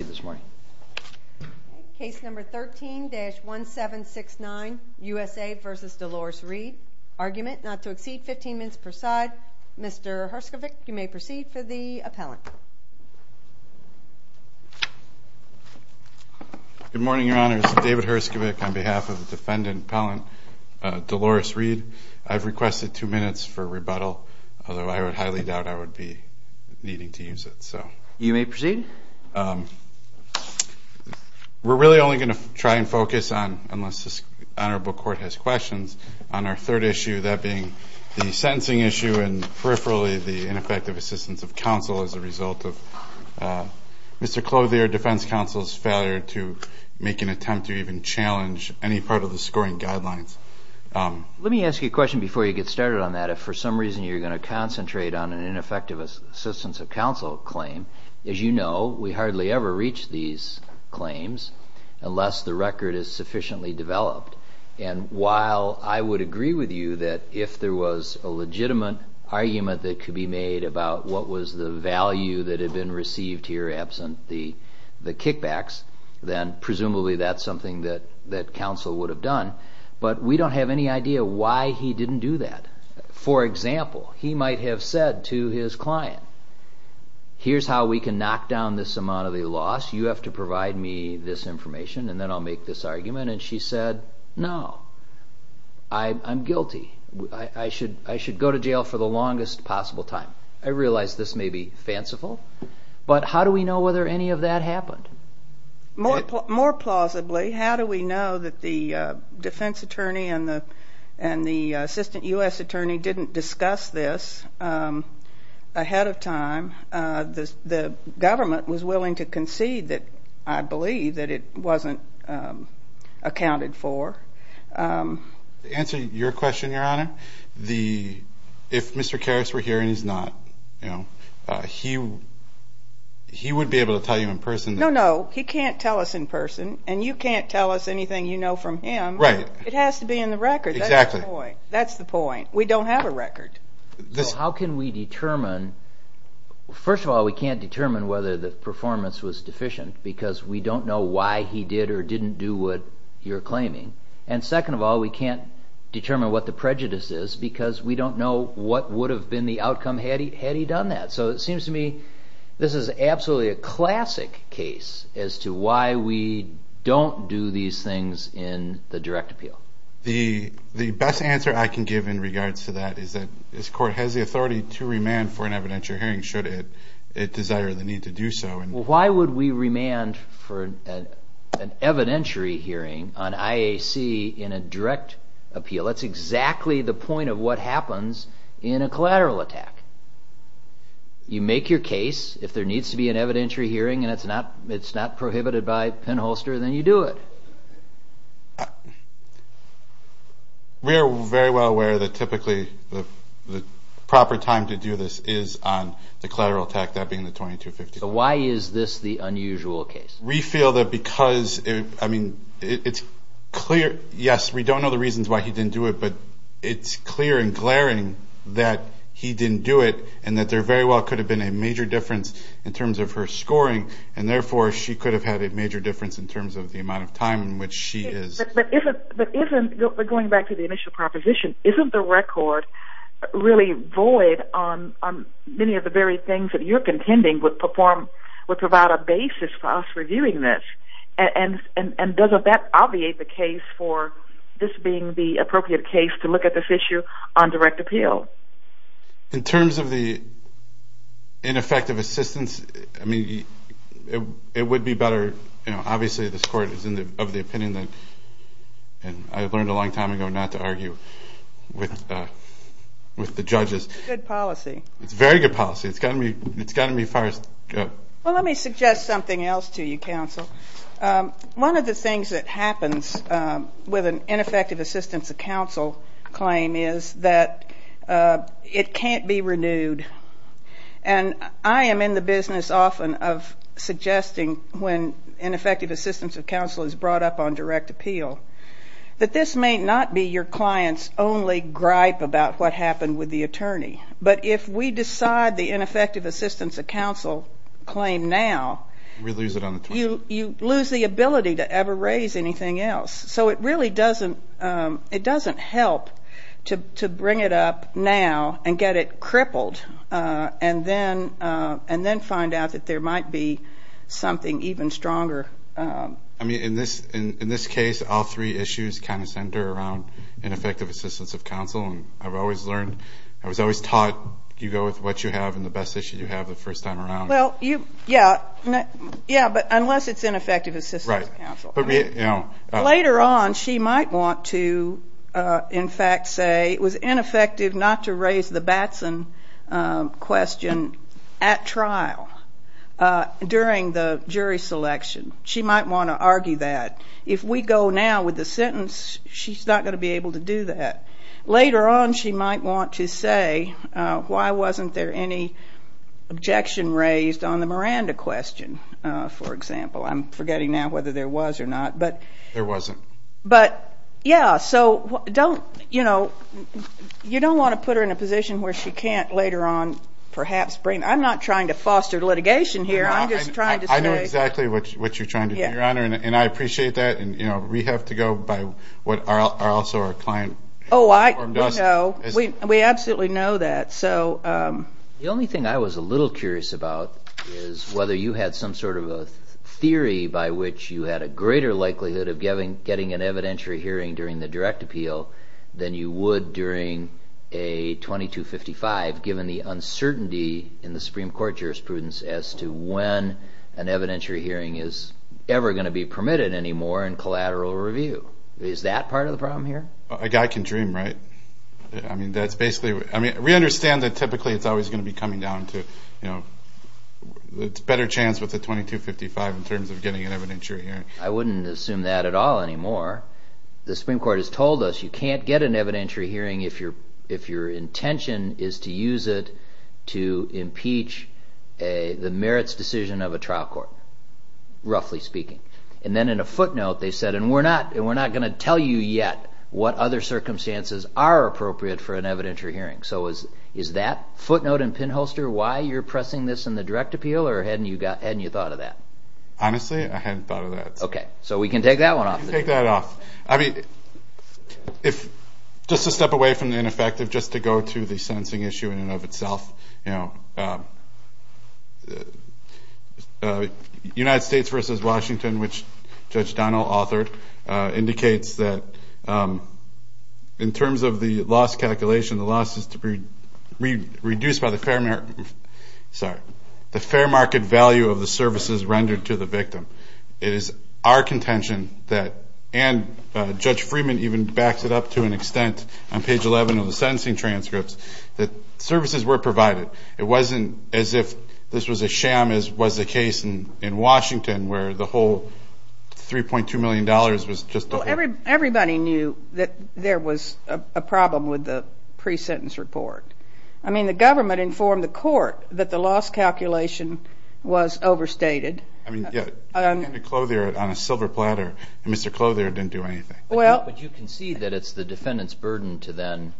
this morning. Case number 13-1769, USA v. Dolores Reid. Argument not to exceed 15 minutes per side. Mr. Herskovich, you may proceed for the appellant. Good morning, Your Honor. This is David Herskovich on behalf of the defendant appellant, Dolores Reid. I've requested two minutes for rebuttal, although I highly doubt I would be needing to use it. You may proceed. We're really only going to try and focus on, unless the Honorable Court has questions, on our third issue, that being the sentencing issue and peripherally the ineffective assistance of counsel as a result of Mr. Clothier, defense counsel's failure to make an attempt to even challenge any part of the scoring guidelines. Let me ask you a question before you get started on that. If for some reason you're going to concentrate on an ineffective assistance of counsel claim, as you know, we hardly ever reach these claims unless the record is sufficiently developed. And while I would agree with you that if there was a legitimate argument that could be made about what was the value that had been received here absent the kickbacks, then presumably that's something that counsel would have done, but we don't have any idea why he didn't do that. For example, he might have said to his client, here's how we can knock down this amount of the loss. You have to provide me this information and then I'll make this argument. And she said, no, I'm guilty. I should go to jail for the longest possible time. I realize this may be fanciful, but how do we know whether any of that happened? More plausibly, how do we know that the defense attorney and the assistant U.S. attorney didn't discuss this ahead of time? The government was willing to concede that, I believe, that it wasn't accounted for. To answer your question, Your Honor, if Mr. Karras were here and he's not, he would be able to tell you in person. No, no, he can't tell us in person and you can't tell us anything you know from him. It has to be in the record. That's the point. We don't have a record. How can we determine? First of all, we can't determine whether the performance was deficient because we don't know why he did or didn't do what you're claiming. And second of all, we can't determine what the prejudice is because we don't know what would have been the outcome had he done that. So it seems to me this is absolutely a classic case as to why we don't do these things in the direct appeal. The best answer I can give in regards to that is that this court has the authority to remand for an evidentiary hearing should it desire the need to do so. Why would we remand for an evidentiary hearing on IAC in a direct appeal? That's exactly the point of what happens in a collateral attack. You make your case, if there needs to be an evidentiary hearing and it's not prohibited by penholster, then you do it. We are very well aware that typically the proper time to do this is on the collateral attack, that being the 2250. So why is this the unusual case? We feel that because it's clear, yes, we don't know the reasons why he didn't do it, but it's clear and glaring that he didn't do it and that there very well could have been a major difference in terms of her scoring and therefore she could have had a major difference in terms of the amount of time in which she is... But isn't, going back to the initial proposition, isn't the record really void on many of the very things that you're contending would provide a basis for us reviewing this? And doesn't that obviate the case for this being the appropriate case to look at this issue on direct appeal? In terms of the ineffective assistance, I mean, it would be better, you know, obviously this court is of the opinion that, and I learned a long time ago not to argue with the judges. It's good policy. It's very good policy. It's got to be as far as... Well, let me suggest something else to you, counsel. One of the things that happens with an ineffective assistance of counsel claim is that it can't be renewed. And I am in the business often of suggesting when ineffective assistance of counsel is brought up on direct appeal that this may not be your client's only gripe about what happened with the attorney. But if we decide the ineffective assistance of counsel claim now... We lose it on the 20th. You lose the ability to ever raise anything else. So it really doesn't help to bring it up now and get it crippled and then find out that there might be something even stronger. I mean, in this case, all three issues kind of center around ineffective assistance of counsel. And I've always learned, I was always taught you go with what you have and the best issue you have the first time around. Well, yeah, but unless it's ineffective assistance of counsel. Right. Later on, she might want to, in fact, say it was ineffective not to raise the Batson question at trial during the jury selection. She might want to argue that. If we go now with the sentence, she's not going to be able to do that. Later on, she might want to say why wasn't there any objection raised on the Miranda question, for example. I'm forgetting now whether there was or not. There wasn't. But, yeah, so don't, you know, you don't want to put her in a position where she can't later on perhaps bring. I'm not trying to foster litigation here. I'm just trying to say. I know exactly what you're trying to do, Your Honor, and I appreciate that. And, you know, we have to go by what also our client informed us. Oh, I know. We absolutely know that. The only thing I was a little curious about is whether you had some sort of a theory by which you had a greater likelihood of getting an evidentiary hearing during the direct appeal than you would during a 2255, given the uncertainty in the Supreme Court jurisprudence as to when an evidentiary hearing is ever going to be permitted anymore in collateral review. Is that part of the problem here? A guy can dream, right? I mean, that's basically. I mean, we understand that typically it's always going to be coming down to, you know, it's a better chance with a 2255 in terms of getting an evidentiary hearing. I wouldn't assume that at all anymore. The Supreme Court has told us you can't get an evidentiary hearing if your intention is to use it to impeach the merits decision of a trial court, roughly speaking. And then in a footnote, they said, and we're not going to tell you yet what other circumstances are appropriate for an evidentiary hearing. So is that footnote and pinholster why you're pressing this in the direct appeal, or hadn't you thought of that? Honestly, I hadn't thought of that. Okay. So we can take that one off the table. We can take that off. I mean, just to step away from the ineffective, just to go to the sentencing issue in and of itself, you know, United States versus Washington, which Judge Donnell authored, indicates that in terms of the loss calculation, the loss is to be reduced by the fair market value of the services rendered to the victim. It is our contention that, and Judge Freeman even backs it up to an extent on page 11 of the sentencing transcripts, that services were provided. It wasn't as if this was a sham as was the case in Washington where the whole $3.2 million was just a whole. Everybody knew that there was a problem with the pre-sentence report. I mean, the government informed the court that the loss calculation was overstated. I mean, Clothier, on a silver platter, Mr. Clothier didn't do anything. But you concede that it's the defendant's burden to then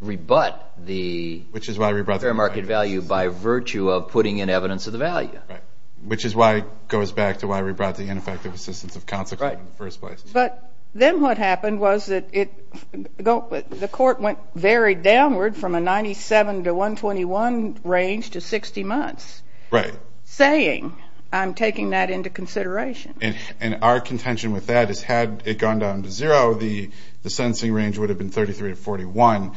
rebut the fair market value by virtue of putting in evidence of the value. Right, which is why it goes back to why we brought the ineffective assistance of counsel in the first place. But then what happened was that the court went very downward from a 97 to 121 range to 60 months. Right. So you're saying I'm taking that into consideration. And our contention with that is had it gone down to zero, the sentencing range would have been 33 to 41.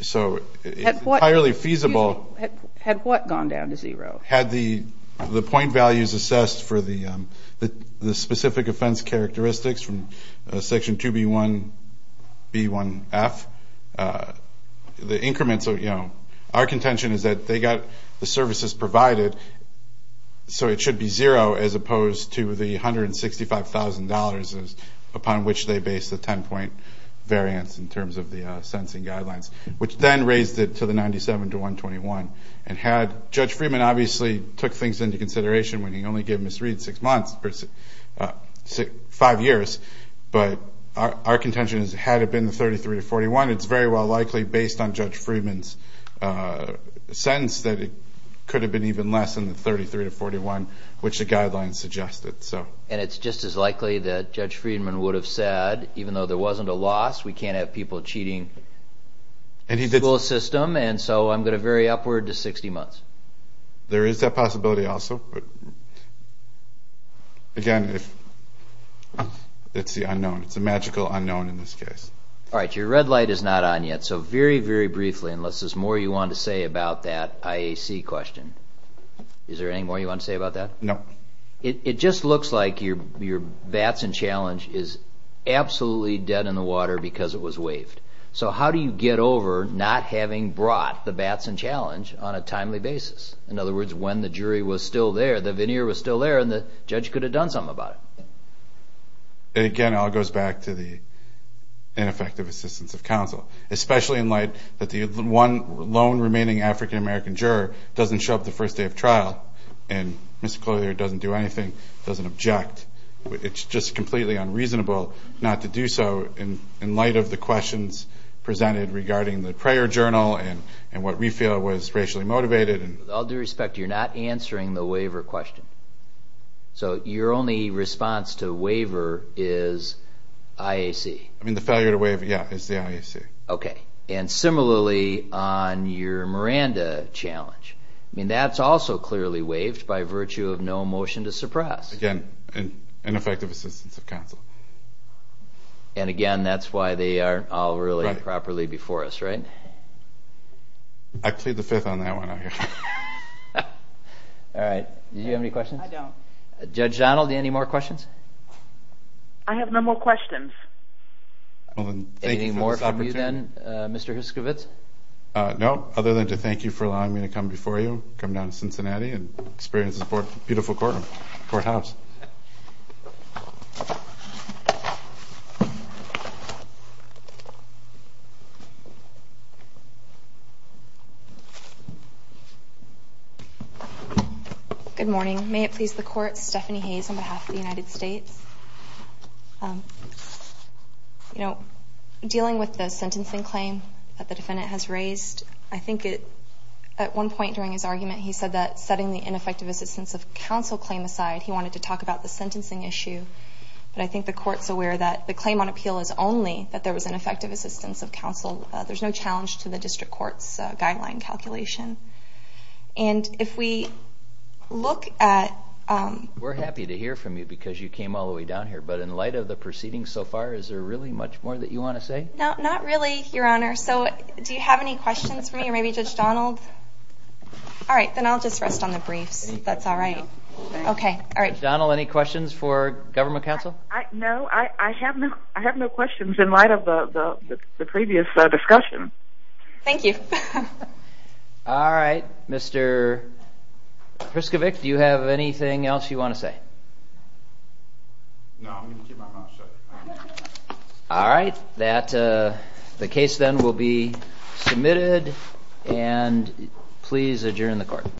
So it's entirely feasible. Had what gone down to zero? Had the point values assessed for the specific offense characteristics from Section 2B1B1F, the increments of, you know, our contention is that they got the services provided, so it should be zero as opposed to the $165,000 upon which they based the 10-point variance in terms of the sentencing guidelines, which then raised it to the 97 to 121. And had Judge Freeman obviously took things into consideration when he only gave Ms. Reed six months, five years, but our contention is had it been the 33 to 41, it's very well likely based on Judge Freeman's sense that it could have been even less than the 33 to 41, which the guidelines suggested. And it's just as likely that Judge Freeman would have said, even though there wasn't a loss, we can't have people cheating the school system, and so I'm going to vary upward to 60 months. There is that possibility also, but again, it's the unknown. It's a magical unknown in this case. All right. Your red light is not on yet, so very, very briefly, unless there's more you want to say about that IAC question. Is there any more you want to say about that? No. It just looks like your Batson challenge is absolutely dead in the water because it was waived. So how do you get over not having brought the Batson challenge on a timely basis? In other words, when the jury was still there, the veneer was still there, and the judge could have done something about it. Again, it all goes back to the ineffective assistance of counsel, especially in light that the one lone remaining African-American juror doesn't show up the first day of trial, and Mr. Collier doesn't do anything, doesn't object. It's just completely unreasonable not to do so in light of the questions presented regarding the prayer journal and what we feel was racially motivated. With all due respect, you're not answering the waiver question. So your only response to waiver is IAC? I mean, the failure to waive, yeah, is the IAC. Okay. And similarly on your Miranda challenge, I mean, that's also clearly waived by virtue of no motion to suppress. Again, ineffective assistance of counsel. And again, that's why they aren't all really properly before us, right? I plead the fifth on that one out here. All right. Do you have any questions? I don't. Judge Donald, any more questions? I have no more questions. Anything more from you then, Mr. Huskowitz? No, other than to thank you for allowing me to come before you, come down to Cincinnati and experience this beautiful courthouse. Good morning. May it please the Court, Stephanie Hayes on behalf of the United States. You know, dealing with the sentencing claim that the defendant has raised, I think at one point during his argument he said that setting the ineffective assistance of counsel claim aside, he wanted to talk about the sentencing issue. But I think the Court's aware that the claim on appeal is only that there was ineffective assistance of counsel. There's no challenge to the district court's guideline calculation. And if we look at – We're happy to hear from you because you came all the way down here. But in light of the proceedings so far, is there really much more that you want to say? No, not really, Your Honor. So do you have any questions for me or maybe Judge Donald? All right, then I'll just rest on the briefs. That's all right. Okay, all right. Judge Donald, any questions for Government Counsel? No, I have no questions in light of the previous discussion. Thank you. All right. Mr. Priskovic, do you have anything else you want to say? No, I'm going to keep my mouth shut. All right. The case then will be submitted. And please adjourn the Court.